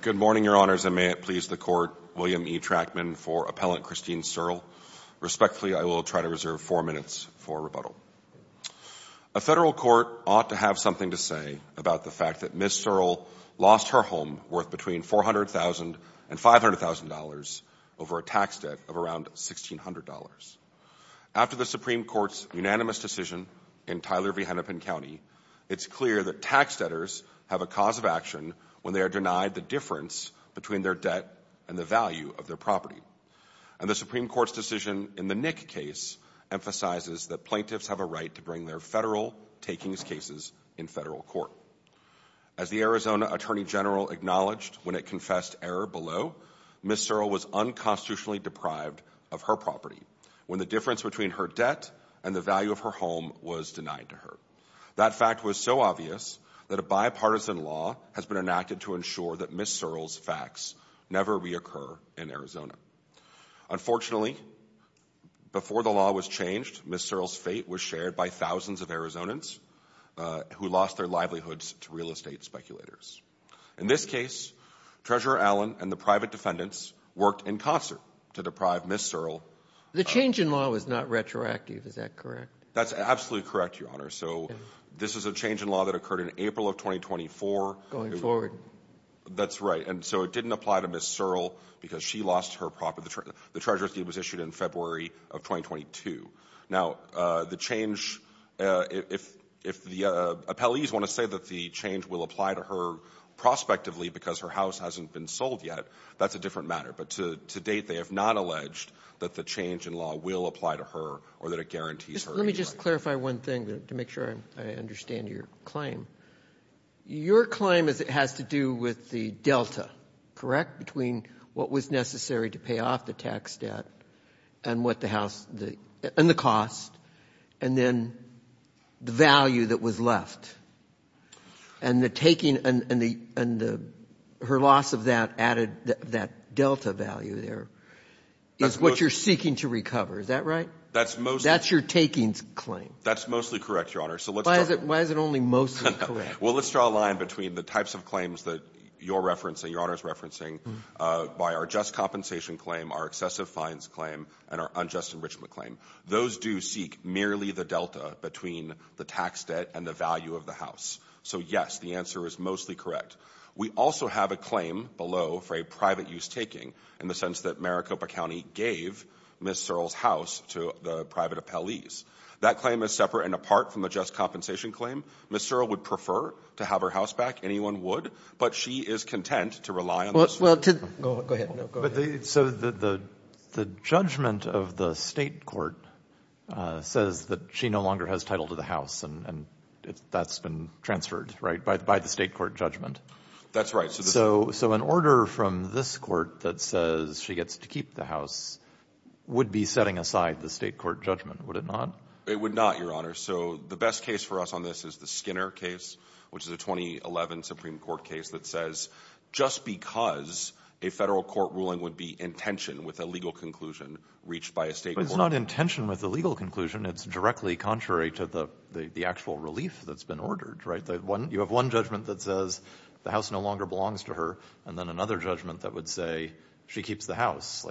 Good morning, Your Honors, and may it please the Court, William E. Trachman for Appellant Christine Searle. Respectfully, I will try to reserve four minutes for rebuttal. A federal court ought to have something to say about the fact that Ms. Searle lost her home worth between $400,000 and $500,000 over a tax debt of around $1,600. After the Supreme Court's unanimous decision in Tyler v. Hennepin County, it's clear that tax debtors have a cause of action when they are denied the difference between their debt and the value of their property. And the Supreme Court's decision in the Nick case emphasizes that plaintiffs have a right to bring their federal takings cases in federal court. As the Arizona Attorney General acknowledged when it confessed error below, Ms. Searle was unconstitutionally deprived of her property when the difference between her debt and the value of her home was denied to her. That fact was so obvious that a bipartisan law has been enacted to ensure that Ms. Searle's facts never reoccur in Arizona. Unfortunately, before the law was changed, Ms. Searle's fate was shared by thousands of Arizonans who lost their livelihoods to real estate speculators. In this case, Treasurer Allen and the private defendants worked in concert to deprive Ms. Searle. The change in law was not retroactive. Is that correct? That's absolutely correct, Your Honor. So this is a change in law that occurred in April of 2024. Going forward. That's right. And so it didn't apply to Ms. Searle because she lost her property. The Treasurer's deed was issued in February of 2022. Now, the change, if the appellees want to say that the change will apply to her prospectively because her house hasn't been sold yet, that's a different matter. But to date, they have not alleged that the change in law will apply to her or that it guarantees her any life. Let me just clarify one thing to make sure I understand your claim. Your claim has to do with the delta, correct, between what was necessary to pay off the tax debt and what the house and the cost and then the value that was left. And the taking and the her loss of that added that delta value there is what you're seeking to recover. Is that right? That's mostly. That's your takings claim. That's mostly correct, Your Honor. Why is it only mostly correct? Well, let's draw a line between the types of claims that you're referencing, Your Honor's referencing by our just compensation claim, our excessive fines claim, and our unjust enrichment claim. Those do seek merely the delta between the tax debt and the value of the house. So, yes, the answer is mostly correct. We also have a claim below for a private use taking in the sense that Maricopa County gave Ms. Searle's house to the private appellees. That claim is separate and apart from the just compensation claim. Ms. Searle would prefer to have her house back. Anyone would. But she is content to rely on this. Go ahead. So the judgment of the State court says that she no longer has title to the house, and that's been transferred, right, by the State court judgment. That's right. So an order from this court that says she gets to keep the house would be setting aside the State court judgment, would it not? It would not, Your Honor. So the best case for us on this is the Skinner case, which is a 2011 Supreme Court case that says just because a Federal court ruling would be intentioned with a legal conclusion reached by a State court. But it's not intentioned with a legal conclusion. It's directly contrary to the actual relief that's been ordered, right? You have one judgment that says the house no longer belongs to her, and then another judgment that would say she keeps the house.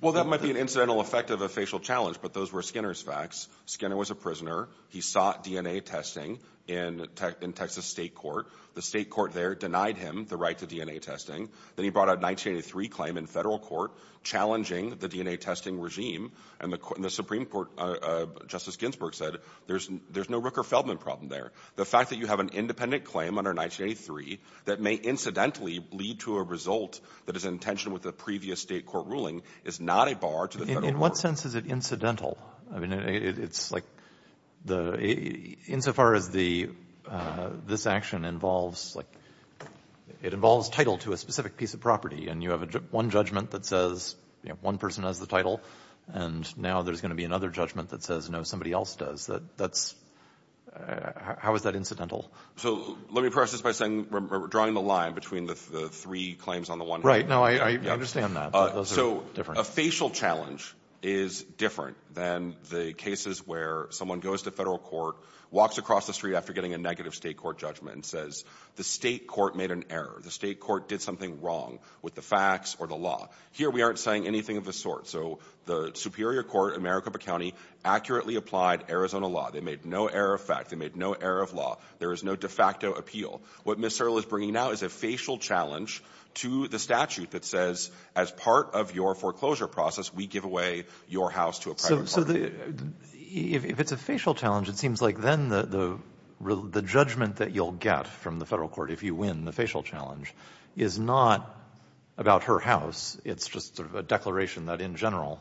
Well, that might be an incidental effect of a facial challenge, but those were Skinner's facts. Skinner was a prisoner. He sought DNA testing in Texas State court. The State court there denied him the right to DNA testing. Then he brought a 1983 claim in Federal court challenging the DNA testing regime. And the Supreme Court, Justice Ginsburg said there's no Rooker-Feldman problem there. The fact that you have an independent claim under 1983 that may incidentally lead to a result that is intentioned with a previous State court ruling is not a bar to the Federal court. In what sense is it incidental? I mean, it's like the — insofar as the — this action involves, like, it involves title to a specific piece of property. And you have one judgment that says, you know, one person has the title. And now there's going to be another judgment that says, no, somebody else does. That's — how is that incidental? So let me preface this by saying we're drawing the line between the three claims on the one hand. Right. No, I understand that. But those are different. A facial challenge is different than the cases where someone goes to Federal court, walks across the street after getting a negative State court judgment and says the State court made an error. The State court did something wrong with the facts or the law. Here we aren't saying anything of the sort. So the Superior Court in Maricopa County accurately applied Arizona law. They made no error of fact. They made no error of law. There is no de facto appeal. What Ms. Searle is bringing now is a facial challenge to the statute that says as part of your foreclosure process, we give away your house to a private party. So the — if it's a facial challenge, it seems like then the judgment that you'll get from the Federal court if you win, the facial challenge, is not about her house. It's just sort of a declaration that in general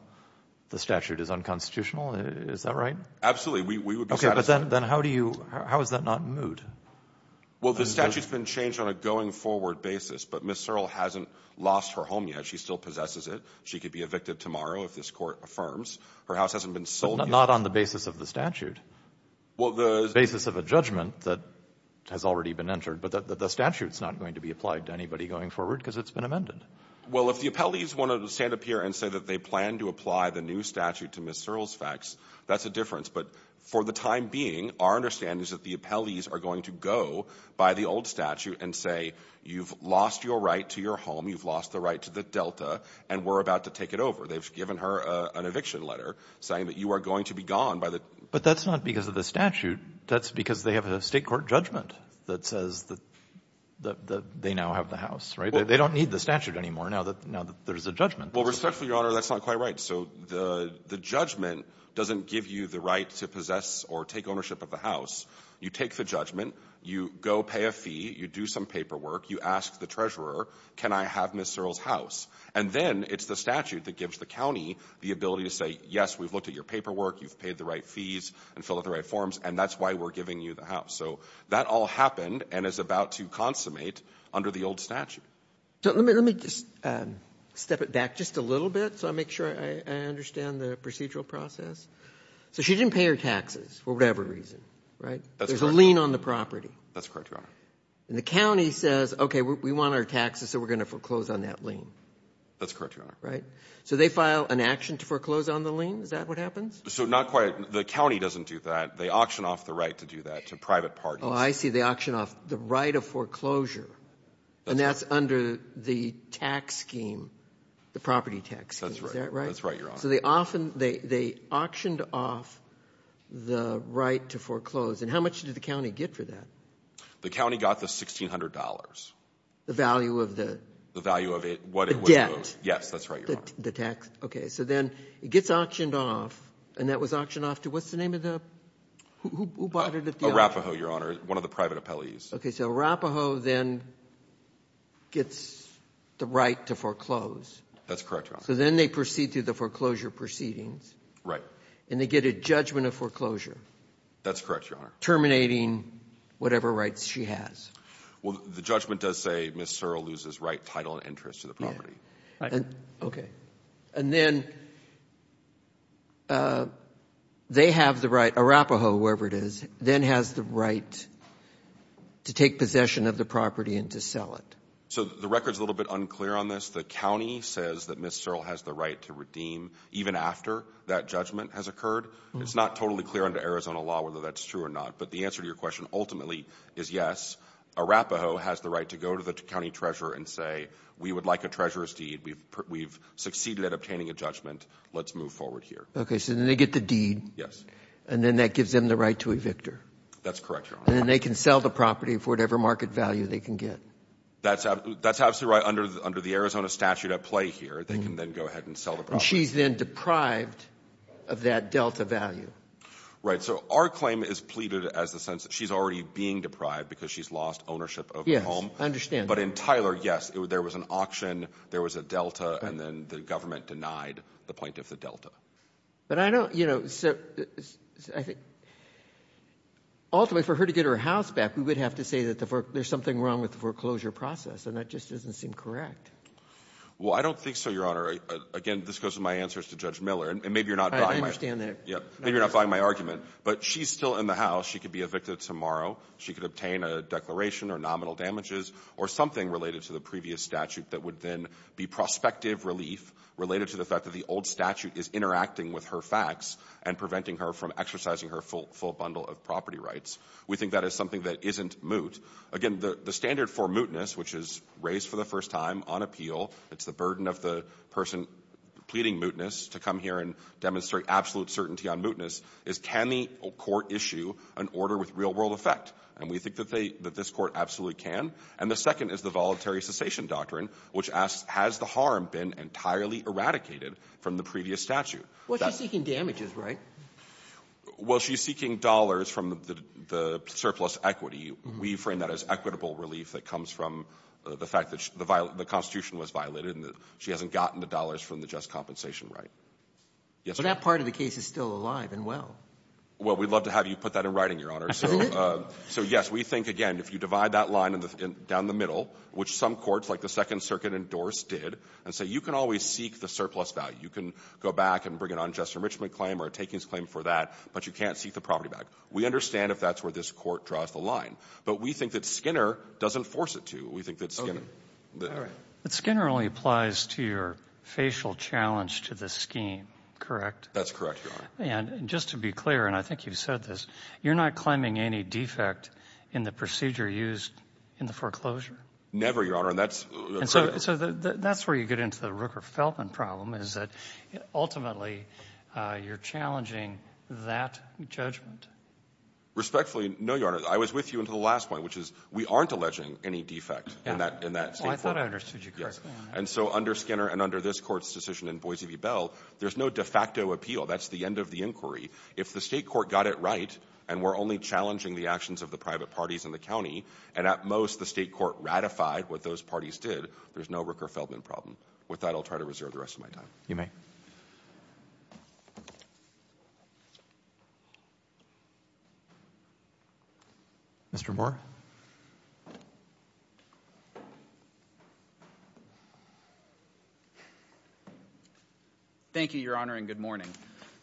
the statute is unconstitutional. Is that right? Absolutely. We would be satisfied. Okay. But then how do you — how is that not moot? Well, the statute's been changed on a going-forward basis. But Ms. Searle hasn't lost her home yet. She still possesses it. She could be evicted tomorrow if this Court affirms. Her house hasn't been sold yet. But not on the basis of the statute. Well, the — The basis of a judgment that has already been entered. But the statute's not going to be applied to anybody going forward because it's been amended. Well, if the appellees want to stand up here and say that they plan to apply the new statute to Ms. Searle's facts, that's a difference. But for the time being, our understanding is that the appellees are going to go by the old statute and say, you've lost your right to your home. You've lost the right to the Delta. And we're about to take it over. They've given her an eviction letter saying that you are going to be gone by the — But that's not because of the statute. That's because they have a state court judgment that says that they now have the house. Right? They don't need the statute anymore now that there's a judgment. Well, respectfully, Your Honor, that's not quite right. So the judgment doesn't give you the right to possess or take ownership of the house. You take the judgment. You go pay a fee. You do some paperwork. You ask the treasurer, can I have Ms. Searle's house? And then it's the statute that gives the county the ability to say, yes, we've looked at your paperwork. You've paid the right fees and filled out the right forms. And that's why we're giving you the house. So that all happened and is about to consummate under the old statute. So let me just step it back just a little bit so I make sure I understand the procedural process. So she didn't pay her taxes for whatever reason. Right? That's correct. There's a lien on the property. That's correct, Your Honor. And the county says, okay, we want our taxes, so we're going to foreclose on that lien. That's correct, Your Honor. Right? So they file an action to foreclose on the lien? Is that what happens? So not quite. The county doesn't do that. They auction off the right to do that to private parties. Oh, I see. They auction off the right of foreclosure. And that's under the tax scheme, the property tax scheme. Is that right? That's right, Your Honor. So they auctioned off the right to foreclose. And how much did the county get for that? The county got the $1,600. The value of the? The value of what it was. The debt? Yes, that's right, Your Honor. The tax? Okay. So then it gets auctioned off, and that was auctioned off to, what's the name of the, who bought it at the auction? Arapahoe, Your Honor, one of the private appellees. Okay, so Arapahoe then gets the right to foreclose. That's correct, Your Honor. So then they proceed through the foreclosure proceedings. Right. And they get a judgment of foreclosure. That's correct, Your Honor. Terminating whatever rights she has. Well, the judgment does say Ms. Searle loses right, title, and interest to the property. Right. Okay. And then they have the right, Arapahoe, whoever it is, then has the right to take possession of the property and to sell it. So the record's a little bit unclear on this. The county says that Ms. Searle has the right to redeem even after that judgment has occurred. It's not totally clear under Arizona law whether that's true or not. But the answer to your question ultimately is yes, Arapahoe has the right to go to the county treasurer and say, we would like a treasurer's deed. We've succeeded at obtaining a judgment. Let's move forward here. Okay, so then they get the deed. Yes. And then that gives them the right to evict her. That's correct, Your Honor. And then they can sell the property for whatever market value they can get. That's absolutely right. Under the Arizona statute at play here, they can then go ahead and sell the property. And she's then deprived of that delta value. Right. So our claim is pleaded as the sense that she's already being deprived because she's lost ownership of the home. Yes, I understand. But in Tyler, yes, there was an auction. There was a delta. And then the government denied the plaintiff the delta. But I don't, you know, so I think ultimately for her to get her house back, we would have to say that there's something wrong with the foreclosure process. And that just doesn't seem correct. Well, I don't think so, Your Honor. Again, this goes to my answers to Judge Miller. And maybe you're not buying my — I understand that. Yeah. Maybe you're not buying my argument. But she's still in the house. She could be evicted tomorrow. She could obtain a declaration or nominal damages or something related to the previous statute that would then be prospective relief related to the fact that the old statute is interacting with her facts and preventing her from exercising her full bundle of property rights. We think that is something that isn't moot. Again, the standard for mootness, which is raised for the first time on appeal, it's the burden of the person pleading mootness to come here and demonstrate absolute certainty on mootness, is can the court issue an order with real-world effect? And we think that they — that this court absolutely can. And the second is the voluntary cessation doctrine, which asks, has the harm been entirely eradicated from the previous statute? Well, she's seeking damages, right? Well, she's seeking dollars from the surplus equity. We frame that as equitable relief that comes from the fact that the Constitution was violated and that she hasn't gotten the dollars from the just compensation right. Yes, Your Honor. But that part of the case is still alive and well. Well, we'd love to have you put that in writing, Your Honor. Isn't it? So, yes, we think, again, if you divide that line down the middle, which some courts like the Second Circuit endorsed did, and say you can always seek the surplus value, you can go back and bring an unjust enrichment claim or a takings claim for that, but you can't seek the property back. We understand if that's where this court draws the line. But we think that Skinner doesn't force it to. We think that Skinner — But Skinner only applies to your facial challenge to the scheme, correct? That's correct, Your Honor. And just to be clear, and I think you've said this, you're not claiming any defect in the procedure used in the foreclosure? Never, Your Honor. And that's — And so that's where you get into the Rooker-Feldman problem, is that ultimately you're challenging that judgment. Respectfully, no, Your Honor. I was with you until the last point, which is we aren't alleging any defect in that Oh, I thought I understood you correctly. And so under Skinner and under this court's decision in Boise v. Bell, there's no de facto appeal. That's the end of the inquiry. If the state court got it right, and we're only challenging the actions of the private parties in the county, and at most the state court ratified what those parties did, there's no Rooker-Feldman problem. With that, I'll try to reserve the rest of my time. You may. Mr. Moore? Thank you, Your Honor, and good morning.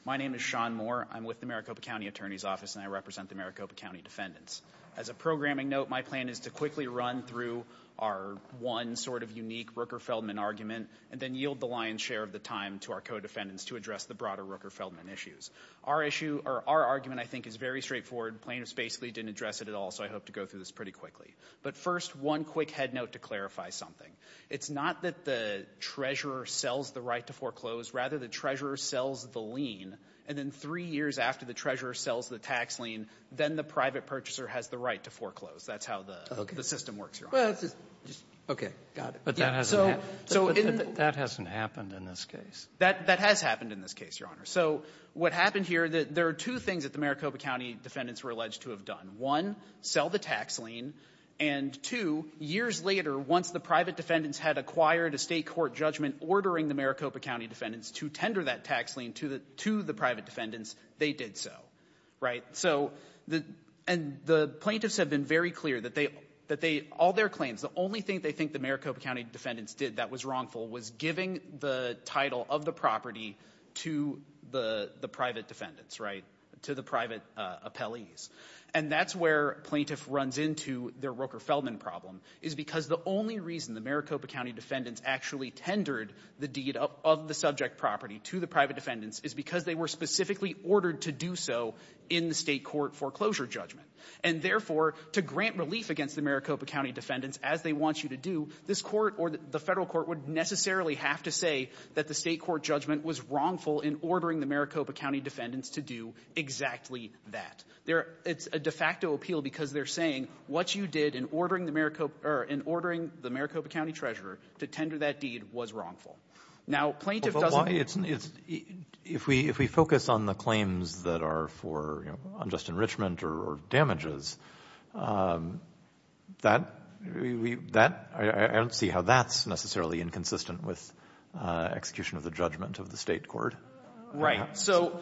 My name is Sean Moore. I'm with the Maricopa County Attorney's Office, and I represent the Maricopa County defendants. As a programming note, my plan is to quickly run through our one sort of unique Rooker-Feldman argument, and then yield the lion's share of the time to our co-defendants to address the broader Rooker-Feldman issues. Our issue or our argument, I think, is very straightforward. Plaintiffs basically didn't address it at all, so I hope to go through this pretty quickly. But first, one quick head note to clarify something. It's not that the treasurer sells the right to foreclose. Rather, the treasurer sells the lien, and then three years after the treasurer sells the tax lien, then the private purchaser has the right to foreclose. That's how the system works, Your Honor. Okay. Got it. But that hasn't happened in this case. That has happened in this case, Your Honor. So what happened here, there are two things that the Maricopa County defendants were alleged to have done. One, sell the tax lien, and two, years later, once the private defendants had acquired a State court judgment ordering the Maricopa County defendants to tender that tax lien to the private defendants, they did so. Right? And the plaintiffs have been very clear that all their claims, the only thing they think the Maricopa County defendants did that was wrongful was giving the title of the property to the private defendants, right, to the private appellees. And that's where plaintiff runs into their Roker-Feldman problem, is because the only reason the Maricopa County defendants actually tendered the deed of the subject property to the private defendants is because they were specifically ordered to do so in the State court foreclosure judgment. And therefore, to grant relief against the Maricopa County defendants as they want you to do, this court or the Federal court would necessarily have to say that the State court judgment was wrongful in ordering the Maricopa County defendants to do exactly that. It's a de facto appeal because they're saying what you did in ordering the Maricopa or in ordering the Maricopa County treasurer to tender that deed was wrongful. Now, plaintiff doesn't need to do that. If we focus on the claims that are for, you know, unjust enrichment or damages, that, that, I don't see how that's necessarily inconsistent with execution of the judgment of the State court. Right. So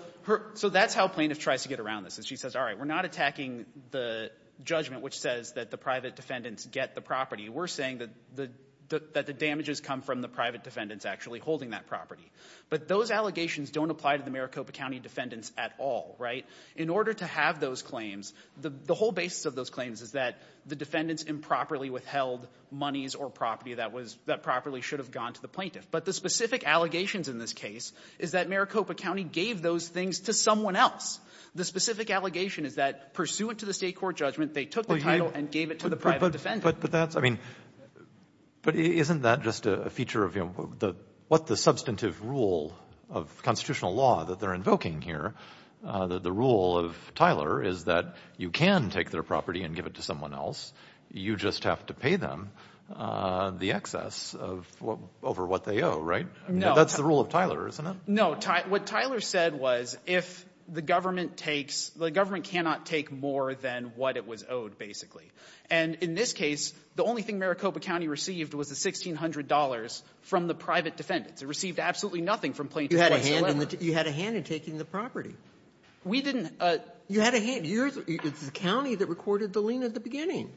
that's how plaintiff tries to get around this, is she says, all right, we're not attacking the judgment which says that the private defendants get the property. We're saying that the damages come from the private defendants actually holding that property. But those allegations don't apply to the Maricopa County defendants at all. Right. In order to have those claims, the whole basis of those claims is that the defendants improperly withheld monies or property that was, that properly should have gone to the plaintiff. But the specific allegations in this case is that Maricopa County gave those things to someone else. The specific allegation is that pursuant to the State court judgment, they took the title and gave it to the private defendant. But, but that's, I mean, but isn't that just a feature of, you know, what the substantive rule of constitutional law that they're invoking here, the rule of Tyler is that you can take their property and give it to someone else. You just have to pay them the excess of what, over what they owe, right? No. That's the rule of Tyler, isn't it? No. What Tyler said was if the government takes, the government cannot take more than what it was owed, basically. And in this case, the only thing Maricopa County received was the $1,600 from the private defendants. It received absolutely nothing from Plaintiff Wessler Lederer. You had a hand in the, you had a hand in taking the property. We didn't. You had a hand. You're the, it's the county that recorded the lien at the beginning.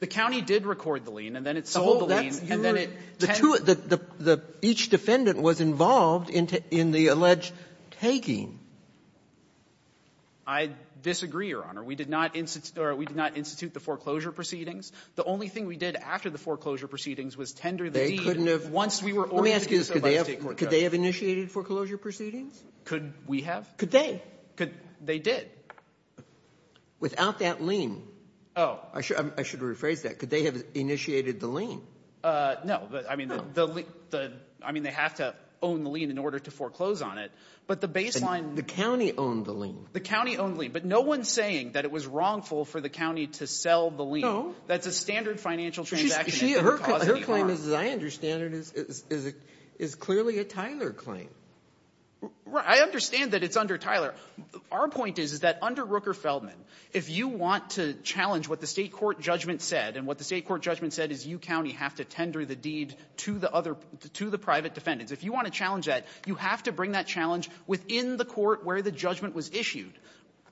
The county did record the lien, and then it sold the lien, and then it tend to it. The two, the, the, each defendant was involved in the alleged taking. I disagree, Your Honor. We did not institute, or we did not institute the foreclosure proceedings. The only thing we did after the foreclosure proceedings was tender the deed. They couldn't have. Once we were. Let me ask you this. Could they have initiated foreclosure proceedings? Could we have? Could they? Could, they did. Without that lien. Oh. I should, I should rephrase that. Could they have initiated the lien? No. No. But, I mean, the, the, I mean, they have to own the lien in order to foreclose on it. But the baseline. The county owned the lien. The county owned the lien. But no one's saying that it was wrongful for the county to sell the lien. That's a standard financial transaction. She's, she, her, her claim is, as I understand it, is, is, is clearly a Tyler claim. Right. I understand that it's under Tyler. Our point is, is that under Rooker-Feldman, if you want to challenge what the State Court judgment said, and what the State Court judgment said is you, county, have to tender the deed to the other, to the private defendants. If you want to challenge that, you have to bring that challenge within the court where the judgment was issued.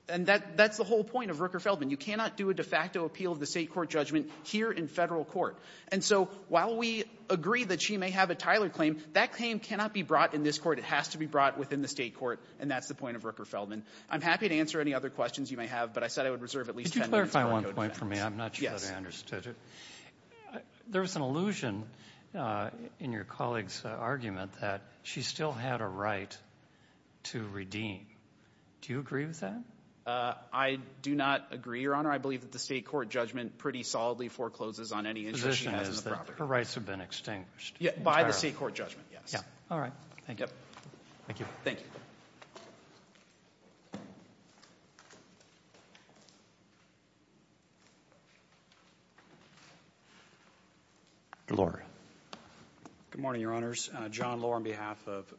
And that, that's the whole point of Rooker-Feldman. You cannot do a de facto appeal of the State Court judgment here in Federal Court. And so, while we agree that she may have a Tyler claim, that claim cannot be brought in this court. It has to be brought within the State Court, and that's the point of Rooker-Feldman. I'm happy to answer any other questions you may have, but I said I would reserve at least ten minutes. Could you clarify one point for me? I'm not sure that I understood it. There was an allusion in your colleague's argument that she still had a right to be redeemed. Do you agree with that? I do not agree, Your Honor. I believe that the State Court judgment pretty solidly forecloses on any interest she has in the property. The position is that her rights have been extinguished. Yeah, by the State Court judgment, yes. Yeah. All right. Thank you. Thank you. Thank you. Good morning, Your Honors. John Lohr on behalf of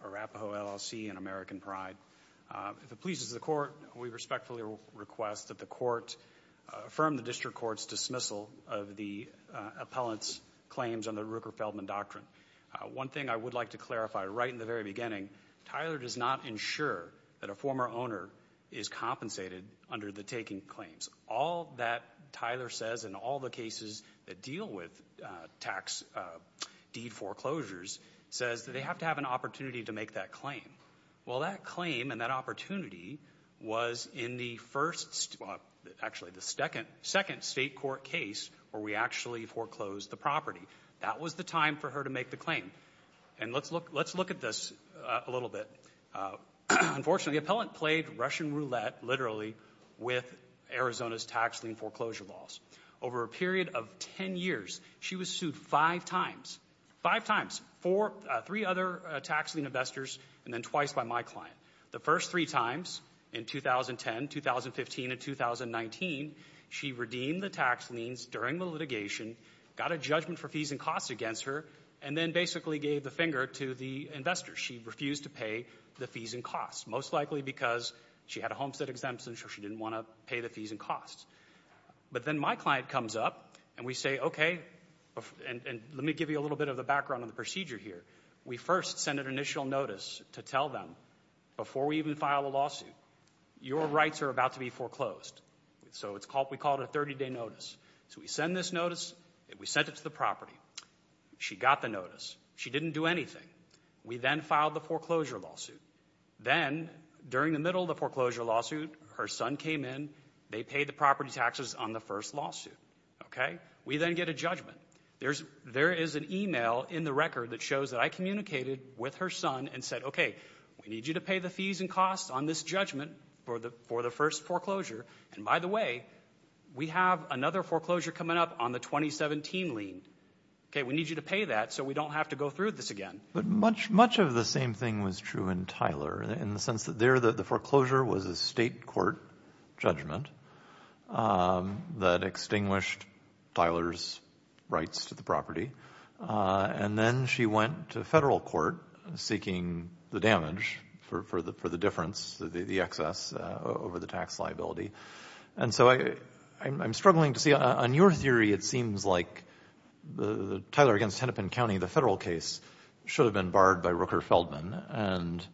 Arapaho LLC and American Pride. If it pleases the Court, we respectfully request that the Court affirm the District Court's dismissal of the appellant's claims under the Rooker-Feldman doctrine. One thing I would like to clarify, right in the very beginning, Tyler does not ensure that a former owner is compensated under the taking claims. All that Tyler says in all the cases that deal with tax deed foreclosures says that they have to have an opportunity to make that claim. Well, that claim and that opportunity was in the first – well, actually, the second State Court case where we actually foreclosed the property. That was the time for her to make the claim. And let's look at this a little bit. Unfortunately, the appellant played Russian roulette, literally, with Arizona's tax lien foreclosure laws. Over a period of 10 years, she was sued five times. Five times. Four – three other tax lien investors and then twice by my client. The first three times, in 2010, 2015, and 2019, she redeemed the tax liens during the litigation, got a judgment for fees and costs against her, and then basically gave the finger to the investors. She refused to pay the fees and costs, most likely because she had a homestead exemption so she didn't want to pay the fees and costs. But then my client comes up and we say, okay – and let me give you a little bit of the background on the procedure here. We first send an initial notice to tell them, before we even file a lawsuit, your rights are about to be foreclosed. So it's called – we call it a 30-day notice. So we send this notice. We sent it to the property. She got the notice. She didn't do anything. We then filed the foreclosure lawsuit. Then, during the middle of the foreclosure lawsuit, her son came in. They paid the property taxes on the first lawsuit. Okay? We then get a judgment. There is an email in the record that shows that I communicated with her son and said, okay, we need you to pay the fees and costs on this judgment for the first foreclosure. And by the way, we have another foreclosure coming up on the 2017 lien. Okay? We need you to pay that so we don't have to go through this again. But much of the same thing was true in Tyler, in the sense that there the foreclosure was a state court judgment that extinguished Tyler's rights to the property. And then she went to federal court seeking the damage for the difference, the excess over the tax liability. And so I'm struggling to see. On your theory, it seems like the Tyler against Hennepin County, the federal case, should have been barred by Rooker-Feldman. And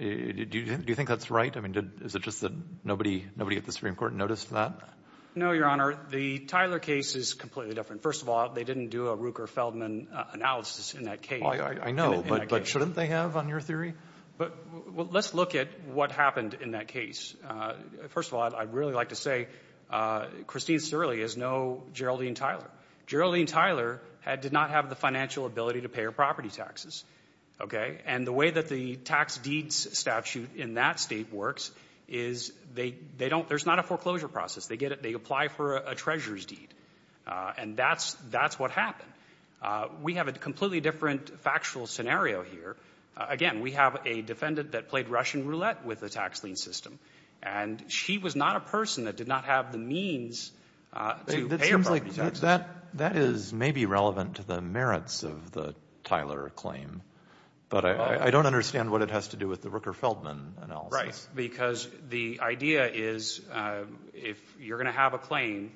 do you think that's right? I mean, is it just that nobody at the Supreme Court noticed that? No, Your Honor. The Tyler case is completely different. First of all, they didn't do a Rooker-Feldman analysis in that case. I know, but shouldn't they have on your theory? Well, let's look at what happened in that case. First of all, I'd really like to say Christine Sturley is no Geraldine Tyler. Geraldine Tyler did not have the financial ability to pay her property taxes. And the way that the tax deeds statute in that state works is there's not a foreclosure process. They apply for a treasurer's deed. And that's what happened. We have a completely different factual scenario here. Again, we have a defendant that played Russian roulette with the tax lien system. And she was not a person that did not have the means to pay her property taxes. It seems like that is maybe relevant to the merits of the Tyler claim. But I don't understand what it has to do with the Rooker-Feldman analysis. Right, because the idea is if you're going to have a claim,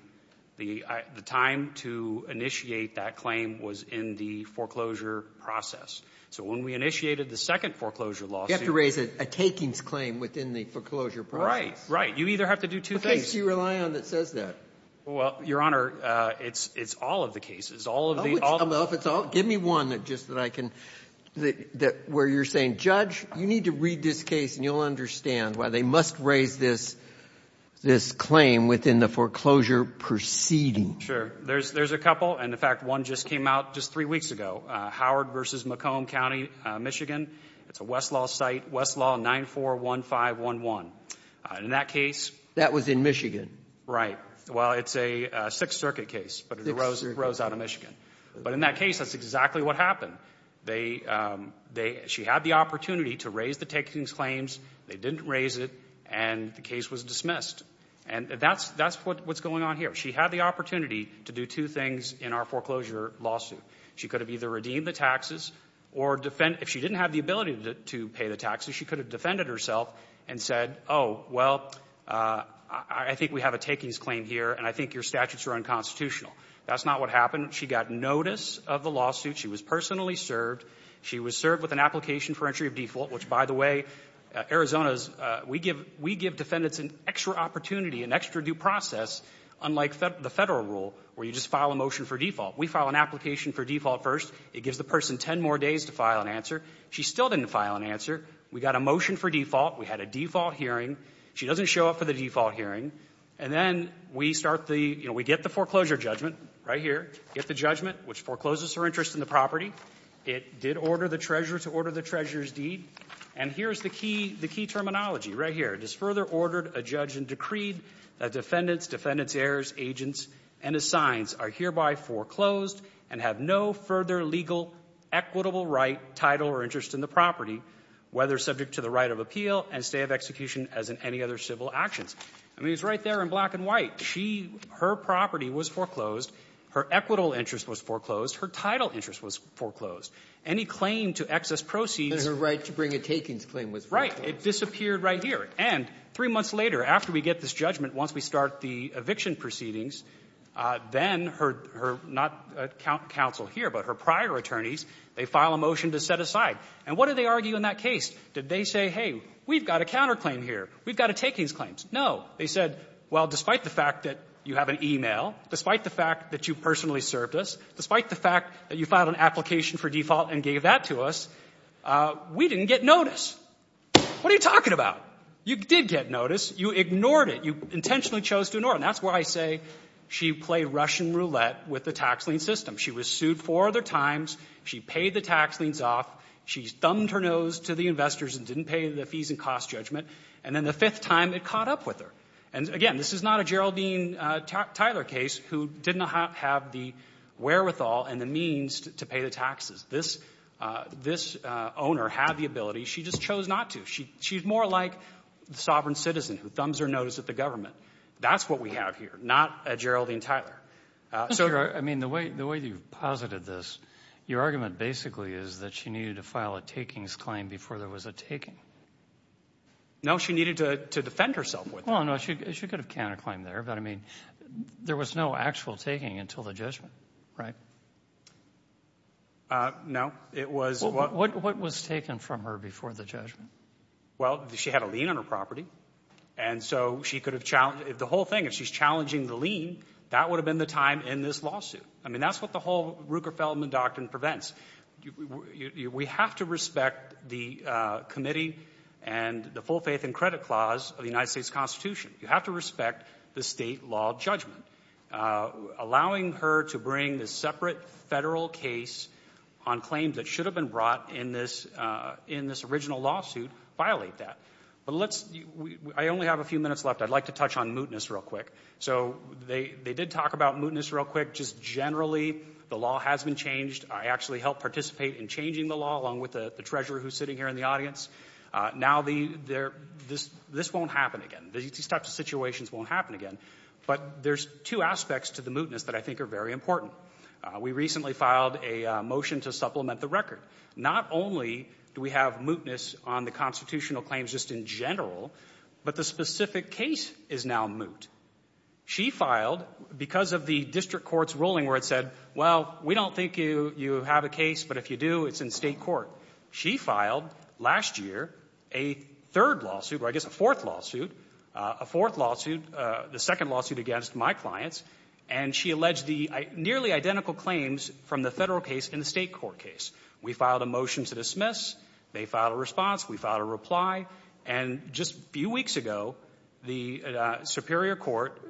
the time to initiate that claim was in the foreclosure process. So when we initiated the second foreclosure lawsuit. You have to raise a takings claim within the foreclosure process. Right, right. You either have to do two things. What case do you rely on that says that? Well, Your Honor, it's all of the cases. Give me one where you're saying, Judge, you need to read this case and you'll understand why they must raise this claim within the foreclosure proceeding. Sure. There's a couple. And, in fact, one just came out just three weeks ago. Howard v. McComb County, Michigan. It's a Westlaw site. Westlaw 941511. In that case. That was in Michigan. Right. Well, it's a Sixth Circuit case. Sixth Circuit. But it arose out of Michigan. But in that case, that's exactly what happened. She had the opportunity to raise the takings claims. They didn't raise it. And the case was dismissed. And that's what's going on here. She had the opportunity to do two things in our foreclosure lawsuit. She could have either redeemed the taxes or defend. If she didn't have the ability to pay the taxes, she could have defended herself and said, oh, well, I think we have a takings claim here and I think your statutes are unconstitutional. That's not what happened. She got notice of the lawsuit. She was personally served. She was served with an application for entry of default, which, by the way, Arizona's we give defendants an extra opportunity, an extra due process, unlike the Federal rule where you just file a motion for default. We file an application for default first. It gives the person ten more days to file an answer. She still didn't file an answer. We got a motion for default. We had a default hearing. She doesn't show up for the default hearing. And then we start the ‑‑ you know, we get the foreclosure judgment right here. Get the judgment, which forecloses her interest in the property. It did order the treasurer to order the treasurer's deed. And here's the key terminology right here. It is further ordered a judge and decreed that defendants, defendants' heirs, agents, and assigns are hereby foreclosed and have no further legal equitable right, title, or interest in the property, whether subject to the right of appeal and stay of execution as in any other civil actions. I mean, it's right there in black and white. She ‑‑ her property was foreclosed. Her equitable interest was foreclosed. Her title interest was foreclosed. Any claim to excess proceeds ‑‑ And her right to bring a takings claim was foreclosed. Right. It disappeared right here. And three months later, after we get this judgment, once we start the eviction proceedings, then her ‑‑ her not counsel here, but her prior attorneys, they file a motion to set aside. And what did they argue in that case? Did they say, hey, we've got a counterclaim here. We've got a takings claim. No. They said, well, despite the fact that you have an e‑mail, despite the fact that you personally served us, despite the fact that you filed an application for default and gave that to us, we didn't get notice. What are you talking about? You did get notice. You ignored it. You intentionally chose to ignore it. And that's why I say she played Russian roulette with the tax lien system. She was sued four other times. She paid the tax liens off. She thumbed her nose to the investors and didn't pay the fees and cost judgment. And then the fifth time, it caught up with her. And, again, this is not a Geraldine Tyler case who didn't have the wherewithal and the means to pay the taxes. This ‑‑ this owner had the ability. She just chose not to. She's more like the sovereign citizen who thumbs her nose at the government. That's what we have here. Not a Geraldine Tyler. I mean, the way you've posited this, your argument basically is that she needed to file a takings claim before there was a taking. No, she needed to defend herself with it. Well, no, she could have counterclaimed there. But, I mean, there was no actual taking until the judgment, right? No, it was ‑‑ What was taken from her before the judgment? Well, she had a lien on her property. And so she could have challenged ‑‑ The whole thing, if she's challenging the lien, that would have been the time in this lawsuit. I mean, that's what the whole Ruker‑Feldman doctrine prevents. We have to respect the committee and the full faith and credit clause of the United States Constitution. You have to respect the state law judgment. Allowing her to bring the separate federal case on claims that should have been brought in this original lawsuit violate that. But let's ‑‑ I only have a few minutes left. I'd like to touch on mootness real quick. So they did talk about mootness real quick. Just generally, the law has been changed. I actually helped participate in changing the law, along with the treasurer who's sitting here in the audience. Now this won't happen again. These types of situations won't happen again. But there's two aspects to the mootness that I think are very important. We recently filed a motion to supplement the record. Not only do we have mootness on the constitutional claims just in general, but the specific case is now moot. She filed, because of the district court's ruling where it said, well, we don't think you have a case, but if you do, it's in state court. She filed last year a third lawsuit, or I guess a fourth lawsuit, a fourth lawsuit, the second lawsuit against my clients, and she alleged the nearly identical claims from the federal case and the state court case. We filed a motion to dismiss. They filed a response. We filed a reply. And just a few weeks ago, the Superior Court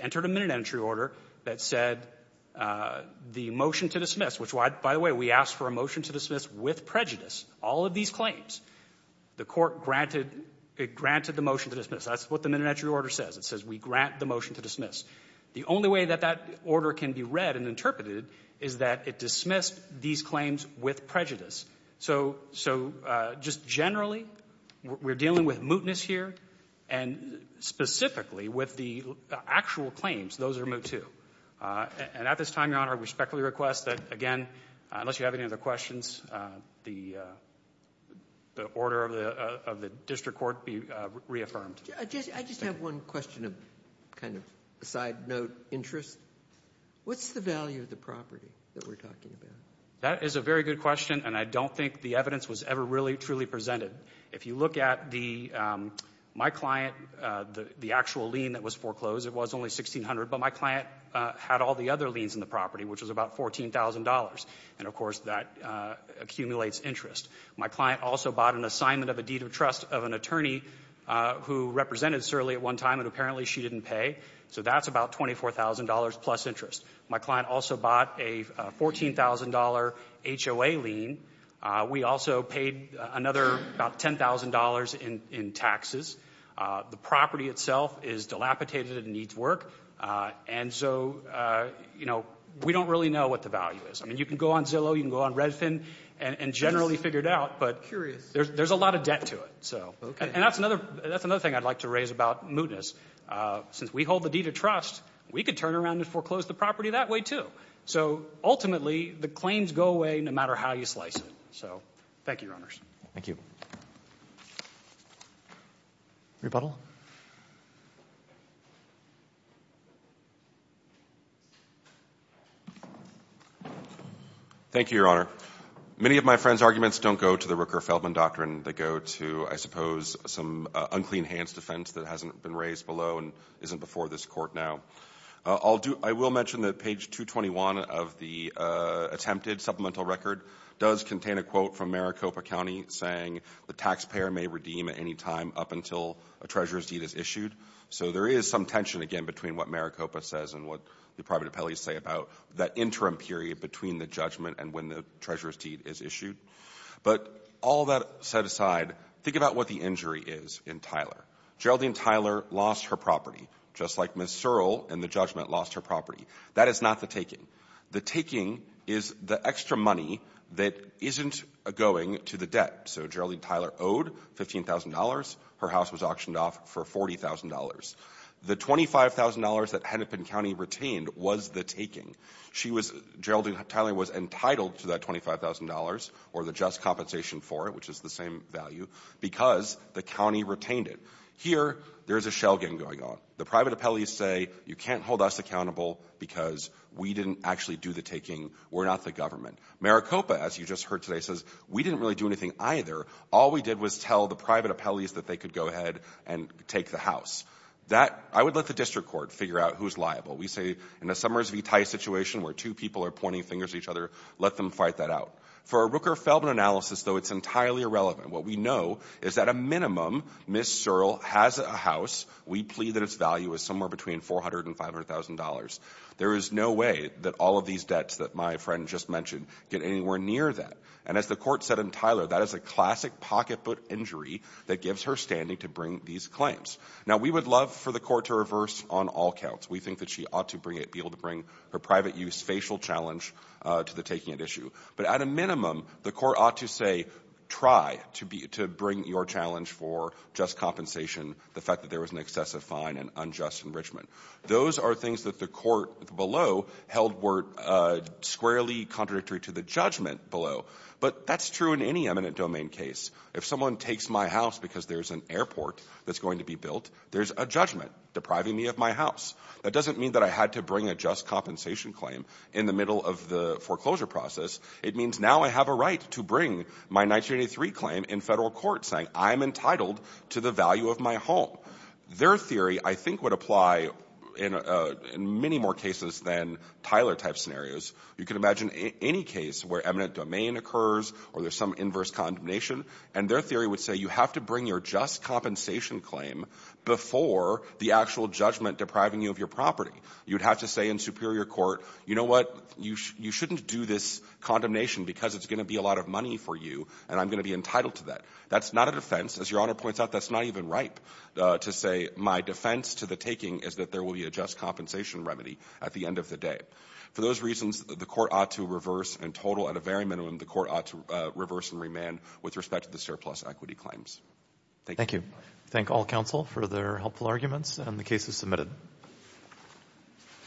entered a minute-entry order that said the motion to dismiss, which, by the way, we asked for a motion to dismiss with prejudice, all of these claims. The court granted the motion to dismiss. That's what the minute-entry order says. It says we grant the motion to dismiss. The only way that that order can be read and interpreted is that it dismissed these claims with prejudice. So just generally, we're dealing with mootness here, and specifically with the actual claims, those are moot, too. And at this time, Your Honor, I respectfully request that, again, unless you have any other questions, the order of the district court be reaffirmed. I just have one question of kind of a side note interest. What's the value of the property that we're talking about? That is a very good question, and I don't think the evidence was ever really truly presented. If you look at my client, the actual lien that was foreclosed, it was only $1,600, but my client had all the other liens in the property, which was about $14,000. And, of course, that accumulates interest. My client also bought an assignment of a deed of trust of an attorney who represented Surly at one time, and apparently she didn't pay, so that's about $24,000 plus interest. My client also bought a $14,000 HOA lien. We also paid another about $10,000 in taxes. The property itself is dilapidated and needs work. And so, you know, we don't really know what the value is. I mean, you can go on Zillow, you can go on Redfin and generally figure it out, but there's a lot of debt to it. And that's another thing I'd like to raise about mootness. Since we hold the deed of trust, we could turn around and foreclose the property that way, too. So, ultimately, the claims go away no matter how you slice it. So, thank you, Your Honors. Thank you. Rebuttal. Thank you, Your Honor. Many of my friends' arguments don't go to the Rooker-Feldman doctrine. They go to, I suppose, some unclean hands defense that hasn't been raised below and isn't before this court now. I will mention that page 221 of the attempted supplemental record does contain a quote from Maricopa County saying the taxpayer may redeem at any time up until a treasurer's deed is issued. So there is some tension, again, between what Maricopa says and what the private appellees say about that interim period between the judgment and when the treasurer's deed is issued. But all that set aside, think about what the injury is in Tyler. Geraldine Tyler lost her property, just like Ms. Searle in the judgment lost her property. That is not the taking. The taking is the extra money that isn't going to the debt. So Geraldine Tyler owed $15,000. Her house was auctioned off for $40,000. The $25,000 that Hennepin County retained was the taking. She was – Geraldine Tyler was entitled to that $25,000 or the just compensation for it, which is the same value, because the county retained it. Here, there is a shell game going on. The private appellees say you can't hold us accountable because we didn't actually do the taking. We're not the government. Maricopa, as you just heard today, says we didn't really do anything either. All we did was tell the private appellees that they could go ahead and take the house. That – I would let the district court figure out who's liable. We say in a Summers v. Tice situation where two people are pointing fingers at each other, let them fight that out. For a Rooker-Feldman analysis, though, it's entirely irrelevant. What we know is at a minimum, Ms. Searle has a house. We plead that its value is somewhere between $400,000 and $500,000. There is no way that all of these debts that my friend just mentioned get anywhere near that. And as the court said in Tyler, that is a classic pocketbook injury that gives her standing to bring these claims. Now, we would love for the court to reverse on all counts. We think that she ought to bring it – be able to bring her private-use facial challenge to the taking at issue. But at a minimum, the court ought to say, try to bring your challenge for just compensation, the fact that there was an excessive fine and unjust enrichment. Those are things that the court below held were squarely contradictory to the judgment below. But that's true in any eminent domain case. If someone takes my house because there's an airport that's going to be built, there's a judgment depriving me of my house. That doesn't mean that I had to bring a just compensation claim in the middle of the foreclosure process It means now I have a right to bring my 1983 claim in federal court saying I'm entitled to the value of my home. Their theory, I think, would apply in many more cases than Tyler-type scenarios. You can imagine any case where eminent domain occurs or there's some inverse condemnation and their theory would say you have to bring your just compensation claim before the actual judgment depriving you of your property. You'd have to say in superior court, you know what? You shouldn't do this condemnation because it's going to be a lot of money for you and I'm going to be entitled to that. That's not a defense. As Your Honor points out, that's not even ripe to say my defense to the taking is that there will be a just compensation remedy at the end of the day. For those reasons, the court ought to reverse and total at a very minimum the court ought to reverse and remand with respect to the surplus equity claims. Thank you. Thank you. Thank all counsel for their helpful arguments and the cases submitted.